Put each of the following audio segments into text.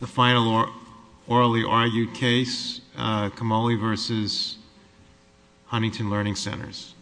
The final orally argued case, Camolli v. Huntington Learning Centers.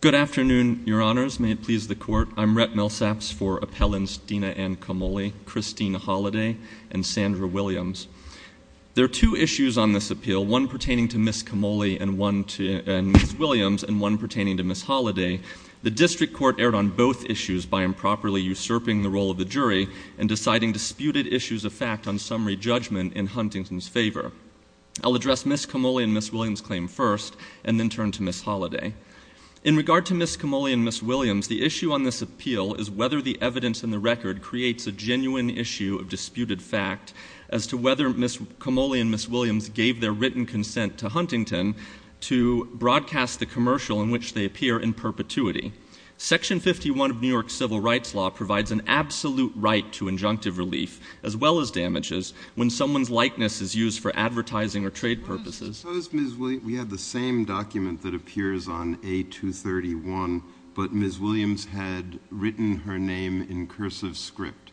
Good afternoon, your honors. May it please the court. I'm Rhett Millsaps for appellants Dena Ann Camolli, Christine Holliday, and Sandra Williams. There are two issues on this appeal, one pertaining to Ms. Williams and one pertaining to Ms. Holliday. The district court erred on both issues by improperly usurping the role of the jury and deciding disputed issues of fact on summary judgment in Huntington's favor. I'll address Ms. Camolli and Ms. Williams' claim first and then turn to Ms. Holliday. In regard to Ms. Camolli and Ms. Williams, the issue on this appeal is whether the evidence in the record creates a genuine issue of disputed fact as to whether Ms. Camolli and Ms. Williams gave their written consent to Huntington to broadcast the commercial in which they appear in perpetuity. Section 51 of New York's civil rights law provides an absolute right to injunctive relief, as well as damages, when someone's likeness is used for advertising or trade purposes. We have the same document that appears on A231, but Ms. Williams had written her name in cursive script.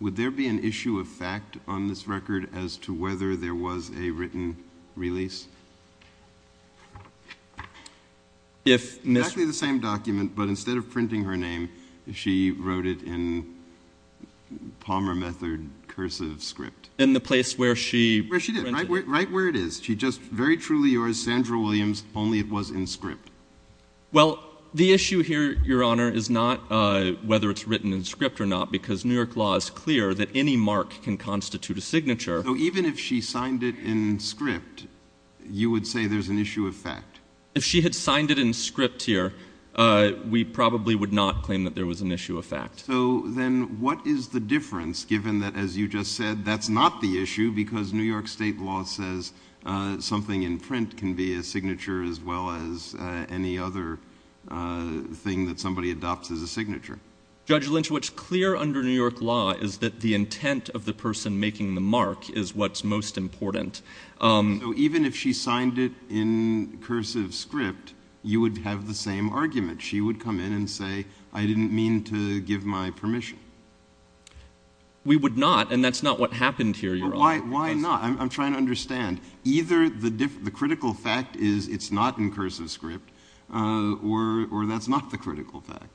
Would there be an issue of fact on this record as to whether there was a written release? Exactly the same document, but instead of printing her name, she wrote it in Palmer Method cursive script. Right where it is. Very truly yours, Sandra Williams, only it was in script. Well, the issue here, Your Honor, is not whether it's written in script or not, because New York law is clear that any mark can constitute a signature. So even if she signed it in script, you would say there's an issue of fact? If she had signed it in script here, we probably would not claim that there was an issue of fact. So then what is the difference, given that, as you just said, that's not the issue, because New York state law says something in print can be a signature, as well as any other thing that somebody adopts as a signature? Judge Lynch, what's clear under New York law is that the intent of the person making the mark is what's most important. So even if she signed it in cursive script, you would have the same argument? She would come in and say, I didn't mean to give my permission? We would not, and that's not what happened here, Your Honor. Why not? I'm trying to understand. Either the critical fact is it's not in cursive script, or that's not the critical fact.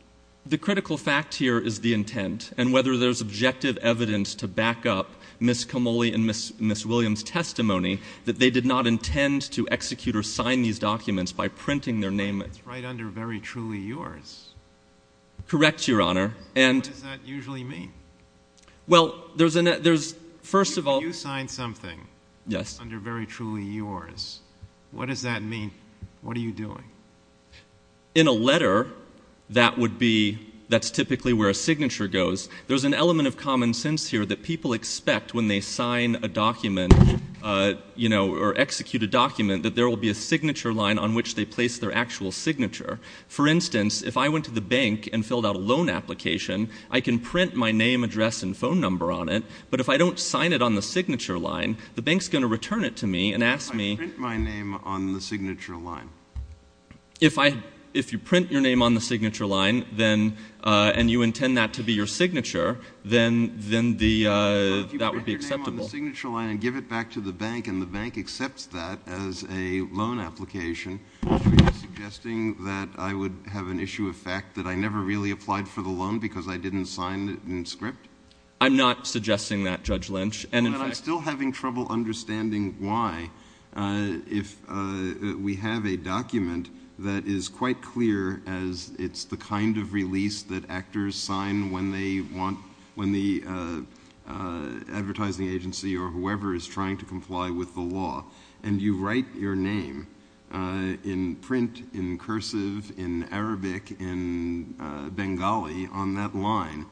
The critical fact here is the intent, and whether there's objective evidence to back up Ms. Camolli and Ms. Williams' testimony that they did not intend to execute or sign these documents by printing their name. But it's right under Very Truly Yours. Correct, Your Honor. What does that usually mean? Well, there's, first of all— If you signed something under Very Truly Yours, what does that mean? What are you doing? In a letter, that would be—that's typically where a signature goes. There's an element of common sense here that people expect when they sign a document, you know, or execute a document, that there will be a signature line on which they place their actual signature. For instance, if I went to the bank and filled out a loan application, I can print my name, address, and phone number on it. But if I don't sign it on the signature line, the bank's going to return it to me and ask me— If you print your name on the signature line and you intend that to be your signature, then that would be acceptable. But if you print your name on the signature line and give it back to the bank and the bank accepts that as a loan application, are you suggesting that I would have an issue of fact that I never really applied for the loan because I didn't sign it in script? I'm not suggesting that, Judge Lynch. I'm still having trouble understanding why, if we have a document that is quite clear as it's the kind of release that actors sign when the advertising agency or whoever is trying to comply with the law, and you write your name in print, in cursive, in Arabic, in Bengali on that line,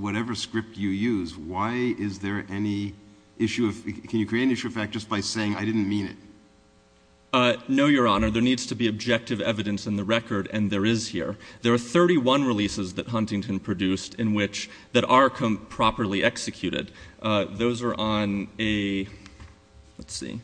whatever script you use, why is there any issue of—can you create an issue of fact just by saying, I didn't mean it? No, Your Honor. There needs to be objective evidence in the record, and there is here. There are 31 releases that Huntington produced in which—that are properly executed. Those are on a—let's see.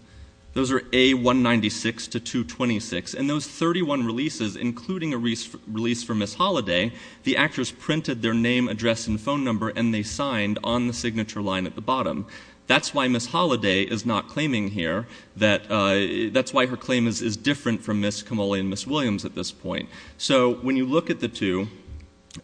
Those are A196 to 226, and those 31 releases, including a release for Ms. Holliday, the actors printed their name, address, and phone number and they signed on the signature line at the bottom. That's why Ms. Holliday is not claiming here. That's why her claim is different from Ms. Camolli and Ms. Williams at this point. So when you look at the two,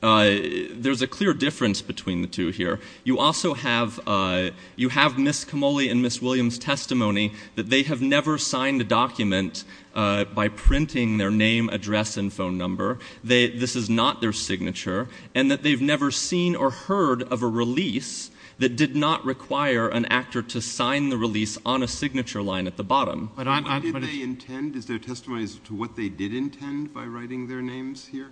there's a clear difference between the two here. You also have—you have Ms. Camolli and Ms. Williams' testimony that they have never signed a document by printing their name, address, and phone number. This is not their signature, and that they've never seen or heard of a release that did not require an actor to sign the release on a signature line at the bottom. What did they intend? Is their testimony to what they did intend by writing their names here?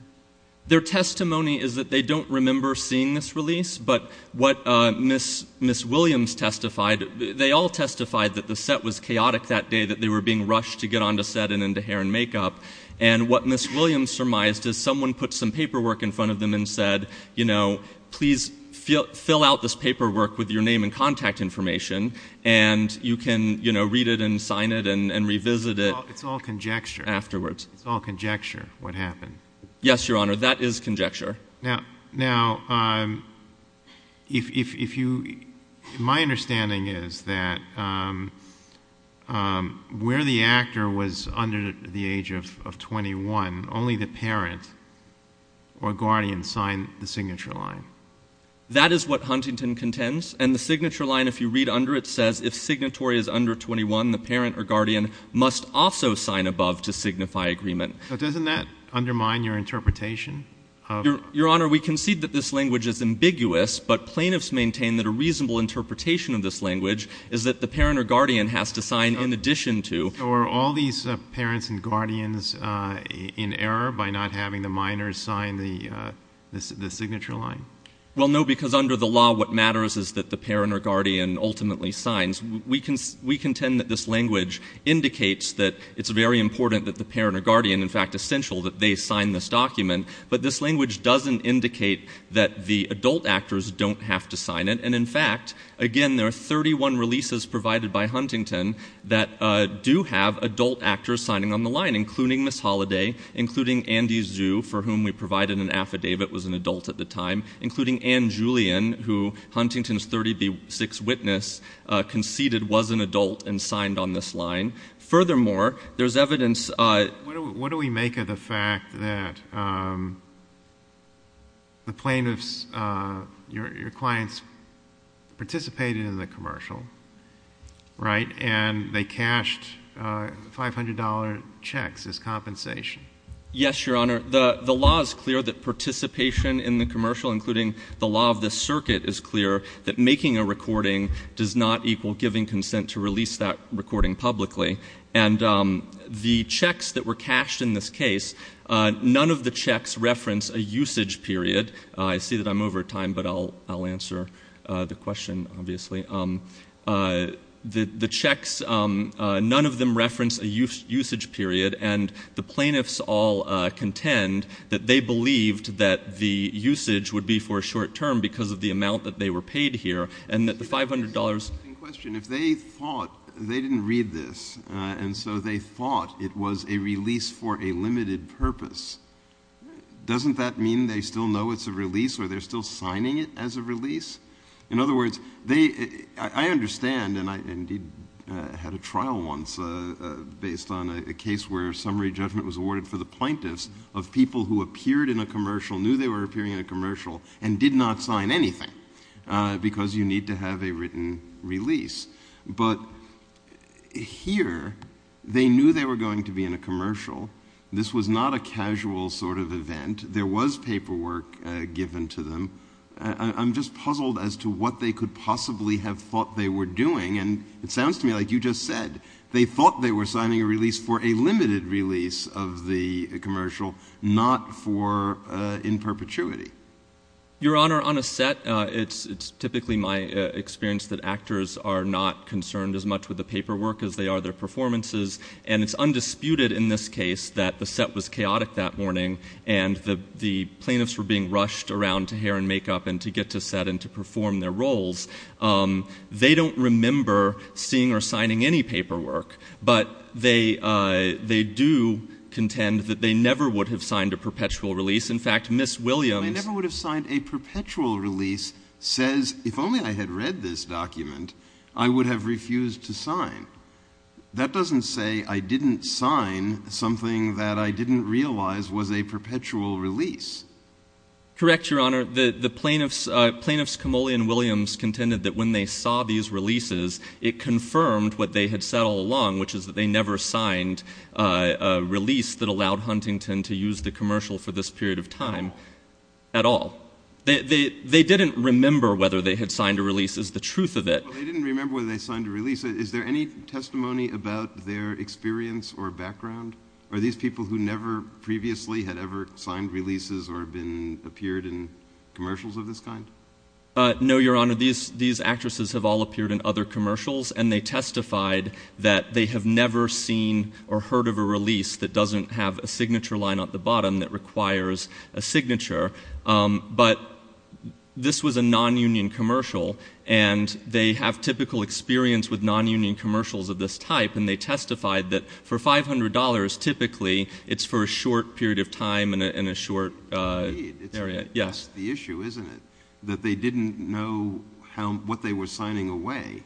Their testimony is that they don't remember seeing this release, but what Ms. Williams testified—they all testified that the set was chaotic that day, that they were being rushed to get on the set and into hair and makeup. And what Ms. Williams surmised is someone put some paperwork in front of them and said, you know, please fill out this paperwork with your name and contact information, and you can, you know, read it and sign it and revisit it. It's all conjecture. Afterwards. It's all conjecture, what happened. Yes, Your Honor, that is conjecture. Now, if you—my understanding is that where the actor was under the age of 21, only the parent or guardian signed the signature line. That is what Huntington contends, and the signature line, if you read under it, says if signatory is under 21, the parent or guardian must also sign above to signify agreement. But doesn't that undermine your interpretation of— Your Honor, we concede that this language is ambiguous, but plaintiffs maintain that a reasonable interpretation of this language is that the parent or guardian has to sign in addition to— So are all these parents and guardians in error by not having the minors sign the signature line? Well, no, because under the law, what matters is that the parent or guardian ultimately signs. We contend that this language indicates that it's very important that the parent or guardian, in fact, essential that they sign this document, but this language doesn't indicate that the adult actors don't have to sign it. And in fact, again, there are 31 releases provided by Huntington that do have adult actors signing on the line, including Ms. Holliday, including Andy Zhu, for whom we provided an affidavit was an adult at the time, including Ann Julian, who Huntington's 36th witness conceded was an adult and signed on this line. Furthermore, there's evidence— What do we make of the fact that the plaintiffs, your clients, participated in the commercial, right, and they cashed $500 checks as compensation? Yes, Your Honor. The law is clear that participation in the commercial, including the law of the circuit, is clear that making a recording does not equal giving consent to release that recording publicly. And the checks that were cashed in this case, none of the checks reference a usage period. I see that I'm over time, but I'll answer the question, obviously. The checks, none of them reference a usage period. And the plaintiffs all contend that they believed that the usage would be for a short term because of the amount that they were paid here and that the $500— And so they thought it was a release for a limited purpose. Doesn't that mean they still know it's a release or they're still signing it as a release? In other words, they—I understand, and I indeed had a trial once based on a case where summary judgment was awarded for the plaintiffs of people who appeared in a commercial, knew they were appearing in a commercial, and did not sign anything because you need to have a written release. But here, they knew they were going to be in a commercial. This was not a casual sort of event. There was paperwork given to them. I'm just puzzled as to what they could possibly have thought they were doing. And it sounds to me like you just said they thought they were signing a release for a limited release of the commercial, not for in perpetuity. Your Honor, on a set, it's typically my experience that actors are not concerned as much with the paperwork as they are their performances. And it's undisputed in this case that the set was chaotic that morning and the plaintiffs were being rushed around to hair and makeup and to get to set and to perform their roles. They don't remember seeing or signing any paperwork. But they do contend that they never would have signed a perpetual release. I never would have signed a perpetual release says if only I had read this document, I would have refused to sign. That doesn't say I didn't sign something that I didn't realize was a perpetual release. Correct, Your Honor. Your Honor, the plaintiffs, Kamoly and Williams, contended that when they saw these releases, it confirmed what they had said all along, which is that they never signed a release that allowed Huntington to use the commercial for this period of time at all. They didn't remember whether they had signed a release is the truth of it. They didn't remember whether they signed a release. Is there any testimony about their experience or background? Are these people who never previously had ever signed releases or been appeared in commercials of this kind? No, Your Honor. These actresses have all appeared in other commercials, and they testified that they have never seen or heard of a release that doesn't have a signature line at the bottom that requires a signature. But this was a nonunion commercial, and they have typical experience with nonunion commercials of this type. And they testified that for $500, typically it's for a short period of time in a short area. Indeed. Yes. That's the issue, isn't it, that they didn't know what they were signing away?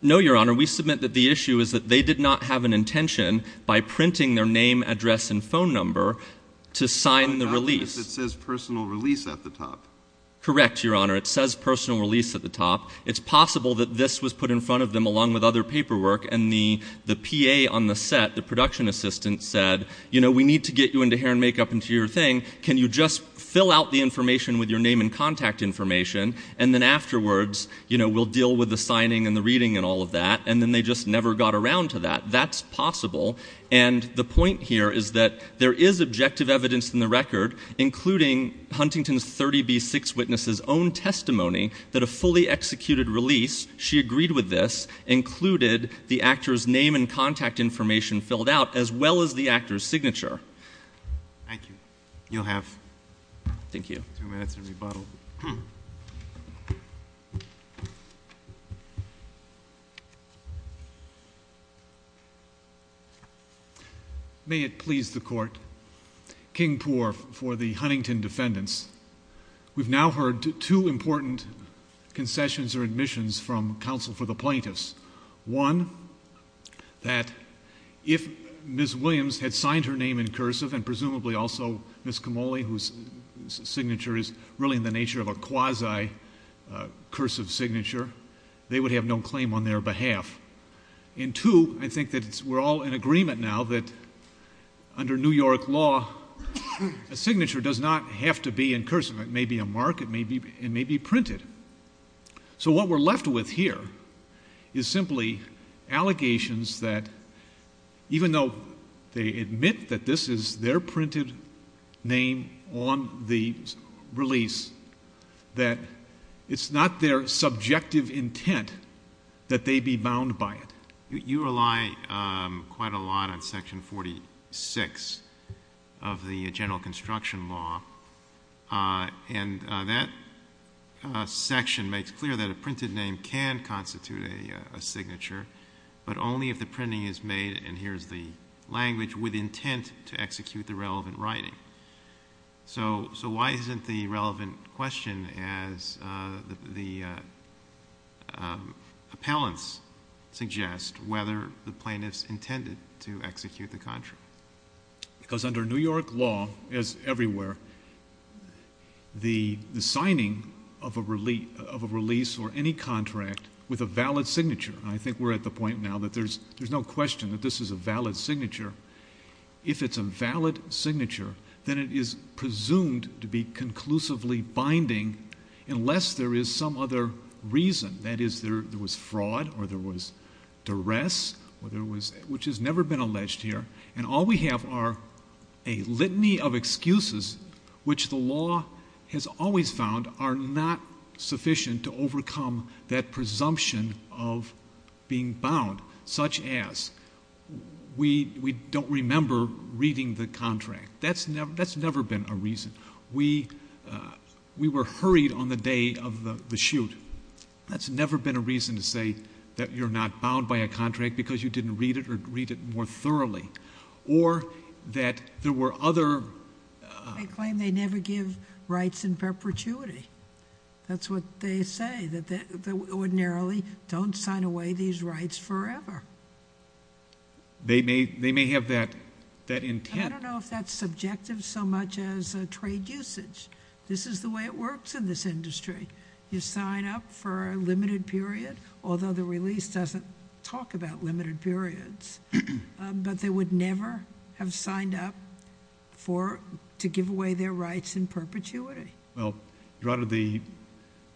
No, Your Honor. We submit that the issue is that they did not have an intention by printing their name, address, and phone number to sign the release. It says personal release at the top. Correct, Your Honor. It says personal release at the top. It's possible that this was put in front of them along with other paperwork, and the P.A. on the set, the production assistant, said, you know, we need to get you into hair and makeup and do your thing. Can you just fill out the information with your name and contact information? And then afterwards, you know, we'll deal with the signing and the reading and all of that. And then they just never got around to that. That's possible. And the point here is that there is objective evidence in the record, including Huntington's 30B6 witness's own testimony, that a fully executed release, she agreed with this, included the actor's name and contact information filled out as well as the actor's signature. Thank you. You'll have two minutes to rebuttal. May it please the Court. King Poore for the Huntington defendants. We've now heard two important concessions or admissions from counsel for the plaintiffs. One, that if Ms. Williams had signed her name in cursive, and presumably also Ms. Camolli, whose signature is really in the nature of a quasi-cursive signature, they would have no claim on their behalf. And two, I think that we're all in agreement now that under New York law, a signature does not have to be in cursive. It may be a mark. It may be printed. So what we're left with here is simply allegations that even though they admit that this is their printed name on the release, that it's not their subjective intent that they be bound by it. You rely quite a lot on Section 46 of the general construction law, and that section makes clear that a printed name can constitute a signature, but only if the printing is made, and here's the language, with intent to execute the relevant writing. So why isn't the relevant question, as the appellants suggest, whether the plaintiffs intended to execute the contract? Because under New York law, as everywhere, the signing of a release or any contract with a valid signature, and I think we're at the point now that there's no question that this is a valid signature. If it's a valid signature, then it is presumed to be conclusively binding unless there is some other reason. That is, there was fraud or there was duress, which has never been alleged here, and all we have are a litany of excuses which the law has always found are not sufficient to overcome that presumption of being bound, such as we don't remember reading the contract. That's never been a reason. We were hurried on the day of the shoot. That's never been a reason to say that you're not bound by a contract because you didn't read it or read it more thoroughly, or that there were other... They claim they never give rights in perpetuity. That's what they say, that they ordinarily don't sign away these rights forever. They may have that intent. I don't know if that's subjective so much as trade usage. This is the way it works in this industry. You sign up for a limited period, although the release doesn't talk about limited periods, but they would never have signed up to give away their rights in perpetuity. Well, Your Honor,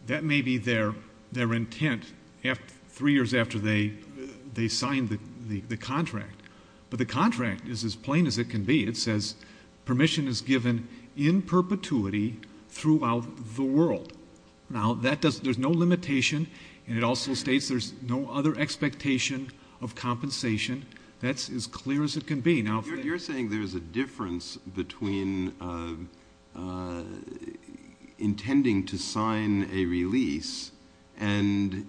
that may be their intent three years after they signed the contract, but the contract is as plain as it can be. It says permission is given in perpetuity throughout the world. Now, there's no limitation, and it also states there's no other expectation of compensation. That's as clear as it can be. You're saying there's a difference between intending to sign a release and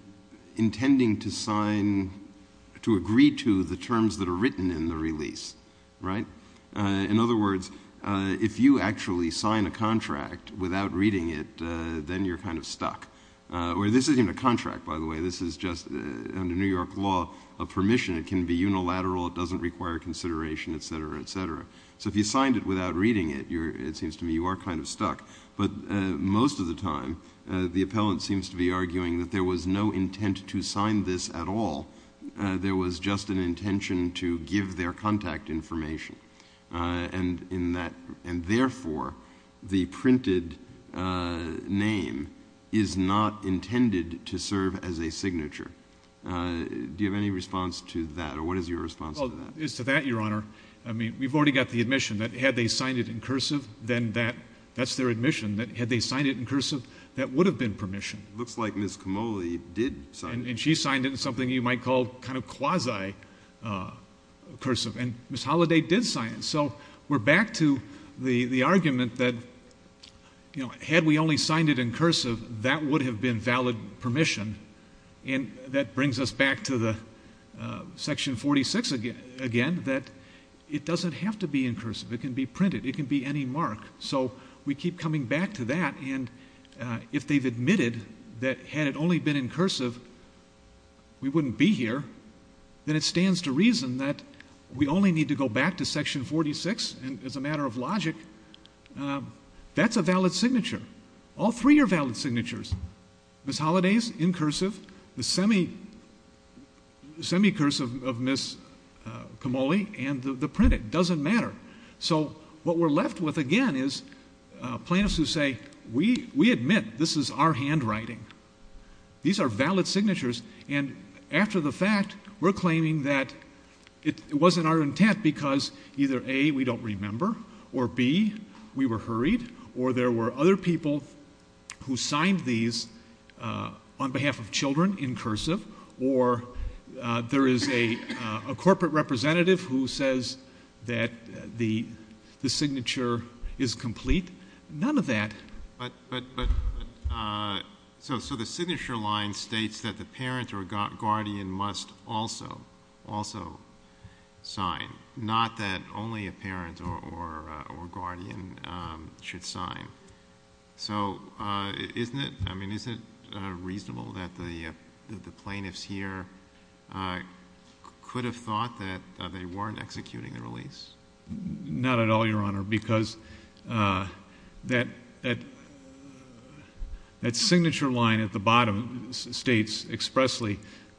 intending to agree to the terms that are written in the release, right? In other words, if you actually sign a contract without reading it, then you're kind of stuck. This isn't even a contract, by the way. This is just, under New York law, a permission. It can be unilateral. It doesn't require consideration, et cetera, et cetera. So if you signed it without reading it, it seems to me you are kind of stuck. But most of the time, the appellant seems to be arguing that there was no intent to sign this at all. There was just an intention to give their contact information, and therefore the printed name is not intended to serve as a signature. Do you have any response to that, or what is your response to that? As to that, Your Honor, we've already got the admission that had they signed it in cursive, then that's their admission, that had they signed it in cursive, that would have been permission. It looks like Ms. Camolli did sign it. And she signed it in something you might call kind of quasi-cursive. And Ms. Holliday did sign it. So we're back to the argument that had we only signed it in cursive, that would have been valid permission. And that brings us back to Section 46 again, that it doesn't have to be in cursive. It can be printed. It can be any mark. So we keep coming back to that. And if they've admitted that had it only been in cursive, we wouldn't be here, then it stands to reason that we only need to go back to Section 46. And as a matter of logic, that's a valid signature. All three are valid signatures. Ms. Holliday's in cursive, the semi-cursive of Ms. Camolli, and the printed. It doesn't matter. So what we're left with again is plaintiffs who say, we admit this is our handwriting. These are valid signatures. And after the fact, we're claiming that it wasn't our intent because either, A, we don't remember, or, B, we were hurried, or there were other people who signed these on behalf of children in cursive, or there is a corporate representative who says that the signature is complete. None of that. But so the signature line states that the parent or guardian must also sign, not that only a parent or guardian should sign. So isn't it reasonable that the plaintiffs here could have thought that they weren't executing the release? Not at all, Your Honor, because that signature line at the bottom states expressly,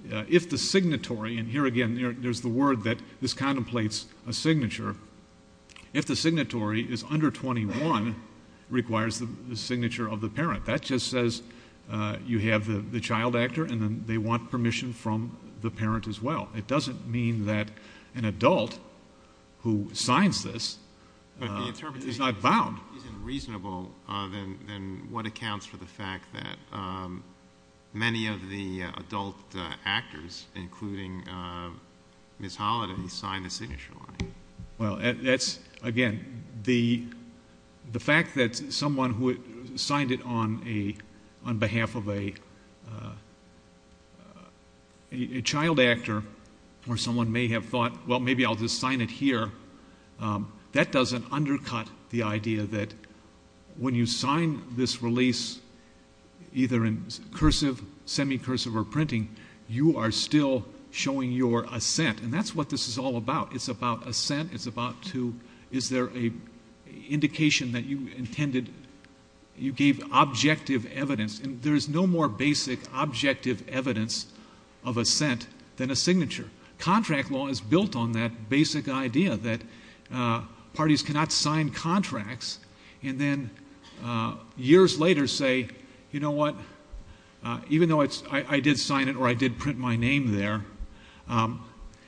if the signatory, and here again, there's the word that this contemplates a signature, if the signatory is under 21, requires the signature of the parent. That just says you have the child actor, and then they want permission from the parent as well. It doesn't mean that an adult who signs this is not bound. But if the interpretation isn't reasonable, then what accounts for the fact that many of the adult actors, including Ms. Holliday, signed the signature line? Well, that's, again, the fact that someone who signed it on behalf of a child actor, or someone may have thought, well, maybe I'll just sign it here, that doesn't undercut the idea that when you sign this release, either in cursive, semi-cursive, or printing, you are still showing your assent. And that's what this is all about. It's about assent. It's about to, is there an indication that you intended, you gave objective evidence. And there is no more basic objective evidence of assent than a signature. Contract law is built on that basic idea that parties cannot sign contracts, and then years later say, you know what, even though I did sign it or I did print my name there,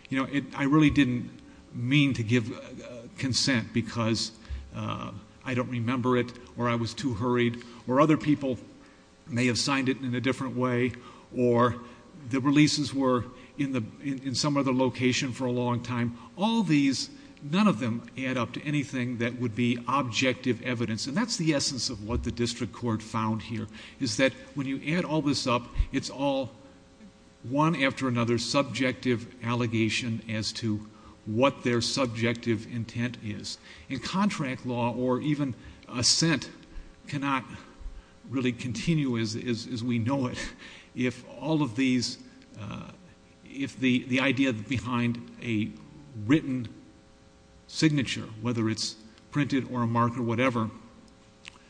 you know, I really didn't mean to give consent because I don't remember it, or I was too hurried, or other people may have signed it in a different way, or the releases were in some other location for a long time. All these, none of them add up to anything that would be objective evidence. And that's the essence of what the district court found here, is that when you add all this up, it's all one after another subjective allegation as to what their subjective intent is. And contract law or even assent cannot really continue as we know it if all of these, if the idea behind a written signature, whether it's printed or a mark or whatever,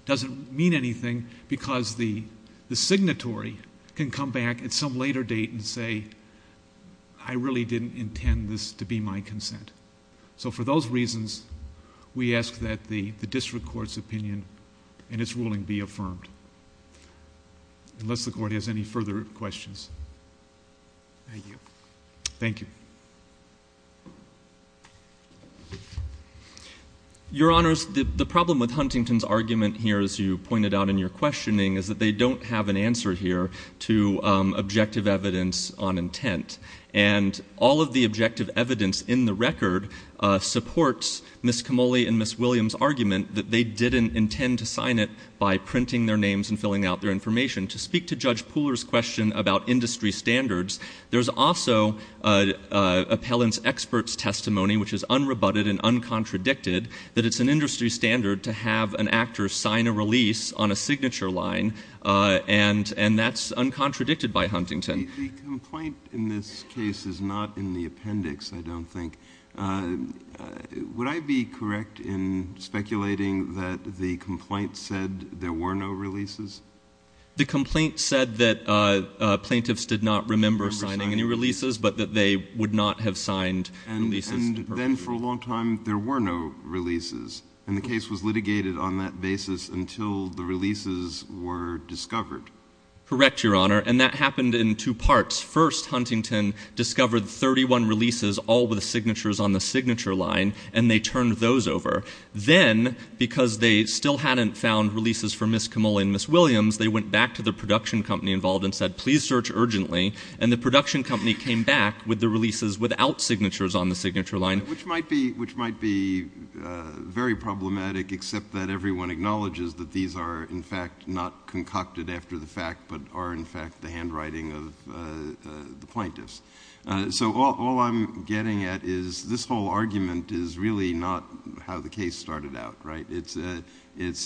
doesn't mean anything because the signatory can come back at some later date and say, I really didn't intend this to be my consent. So for those reasons, we ask that the district court's opinion and its ruling be affirmed, unless the court has any further questions. Thank you. Thank you. Your Honors, the problem with Huntington's argument here, as you pointed out in your questioning, is that they don't have an answer here to objective evidence on intent. And all of the objective evidence in the record supports Ms. Camolli and Ms. Williams' argument that they didn't intend to sign it by printing their names and filling out their information. To speak to Judge Pooler's question about industry standards, there's also appellant's expert's testimony, which is unrebutted and uncontradicted, that it's an industry standard to have an actor sign a release on a signature line, and that's uncontradicted by Huntington. The complaint in this case is not in the appendix, I don't think. Would I be correct in speculating that the complaint said there were no releases? The complaint said that plaintiffs did not remember signing any releases, but that they would not have signed releases. And then for a long time there were no releases, and the case was litigated on that basis until the releases were discovered. Correct, Your Honor, and that happened in two parts. First, Huntington discovered 31 releases, all with signatures on the signature line, and they turned those over. Then, because they still hadn't found releases for Ms. Kamolli and Ms. Williams, they went back to the production company involved and said, please search urgently, and the production company came back with the releases without signatures on the signature line. Which might be very problematic, except that everyone acknowledges that these are, in fact, not concocted after the fact, but are, in fact, the handwriting of the plaintiffs. So all I'm getting at is this whole argument is really not how the case started out, right?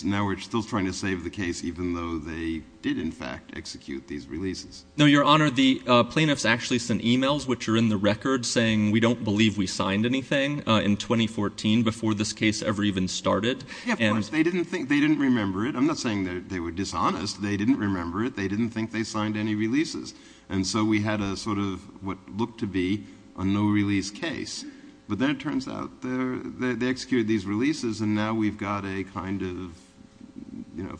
Now we're still trying to save the case, even though they did, in fact, execute these releases. No, Your Honor, the plaintiffs actually sent e-mails, which are in the record, saying we don't believe we signed anything in 2014 before this case ever even started. Yeah, of course, they didn't remember it. I'm not saying they were dishonest. They didn't remember it. They didn't think they signed any releases. And so we had sort of what looked to be a no-release case. But then it turns out they executed these releases, and now we've got a kind of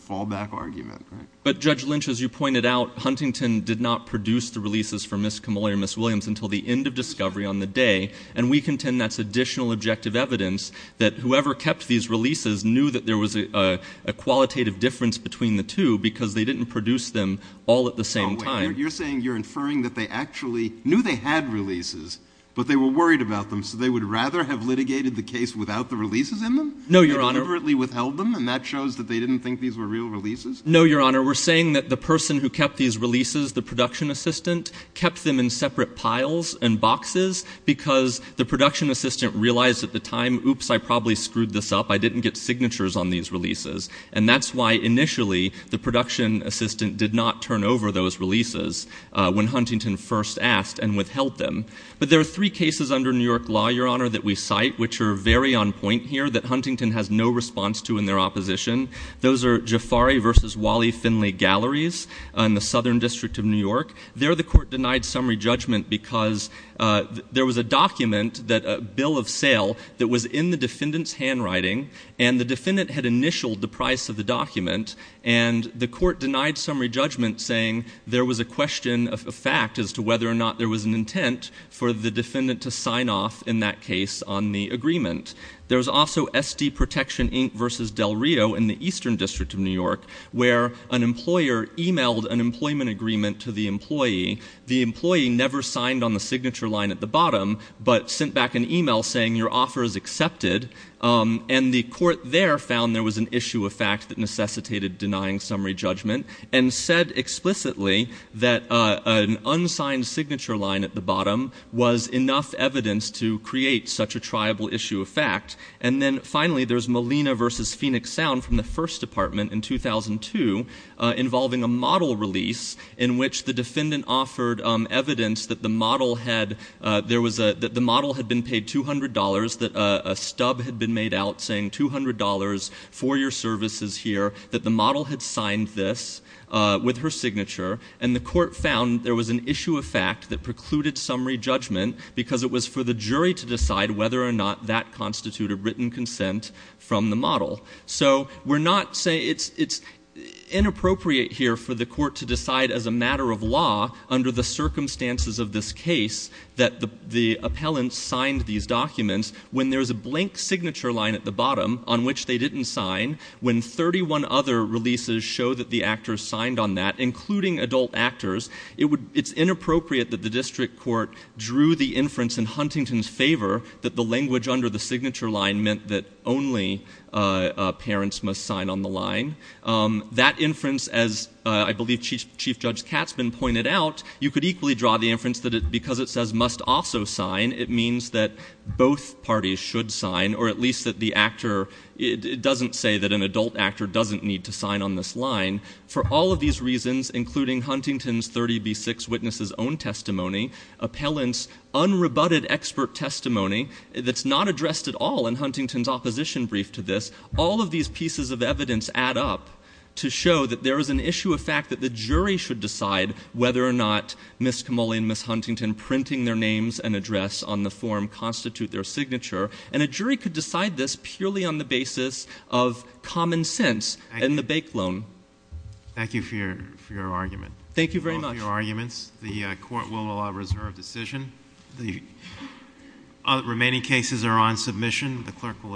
fallback argument. But, Judge Lynch, as you pointed out, Huntington did not produce the releases for Ms. Kamolli or Ms. Williams until the end of discovery on the day, and we contend that's additional objective evidence that whoever kept these releases knew that there was a qualitative difference between the two because they didn't produce them all at the same time. You're saying you're inferring that they actually knew they had releases, but they were worried about them, so they would rather have litigated the case without the releases in them? No, Your Honor. They deliberately withheld them, and that shows that they didn't think these were real releases? No, Your Honor. We're saying that the person who kept these releases, the production assistant, kept them in separate piles and boxes because the production assistant realized at the time, oops, I probably screwed this up. I didn't get signatures on these releases. And that's why initially the production assistant did not turn over those releases when Huntington first asked and withheld them. But there are three cases under New York law, Your Honor, that we cite which are very on point here that Huntington has no response to in their opposition. Those are Jafari v. Wally Finley Galleries in the Southern District of New York. There the court denied summary judgment because there was a document, a bill of sale, that was in the defendant's handwriting, and the defendant had initialed the price of the document, and the court denied summary judgment saying there was a question of fact as to whether or not there was an intent for the defendant to sign off in that case on the agreement. There was also S.D. Protection Inc. v. Del Rio in the Eastern District of New York where an employer emailed an employment agreement to the employee. The employee never signed on the signature line at the bottom but sent back an email saying your offer is accepted, and the court there found there was an issue of fact that necessitated denying summary judgment and said explicitly that an unsigned signature line at the bottom was enough evidence to create such a triable issue of fact. And then finally there's Molina v. Phoenix Sound from the First Department in 2002 involving a model release in which the defendant offered evidence that the model had been paid $200, that a stub had been made out saying $200 for your services here, that the model had signed this with her signature, and the court found there was an issue of fact that precluded summary judgment because it was for the jury to decide whether or not that constituted written consent from the model. So it's inappropriate here for the court to decide as a matter of law under the circumstances of this case that the appellant signed these documents when there's a blank signature line at the bottom on which they didn't sign, when 31 other releases show that the actor signed on that, including adult actors. It's inappropriate that the district court drew the inference in Huntington's favor that the language under the signature line meant that only parents must sign on the line. That inference, as I believe Chief Judge Katzman pointed out, you could equally draw the inference that because it says must also sign, it means that both parties should sign, or at least that the actor doesn't say that an adult actor doesn't need to sign on this line. For all of these reasons, including Huntington's 30b-6 witness's own testimony, appellant's unrebutted expert testimony that's not addressed at all in Huntington's opposition brief to this, all of these pieces of evidence add up to show that there is an issue of fact that the jury should decide whether or not Ms. Camulli and Ms. Huntington printing their names and address on the form constitute their signature, and a jury could decide this purely on the basis of common sense and the bake loan. Thank you for your argument. Thank you very much. The court will reserve decision. The remaining cases are on submission. The clerk will adjourn court.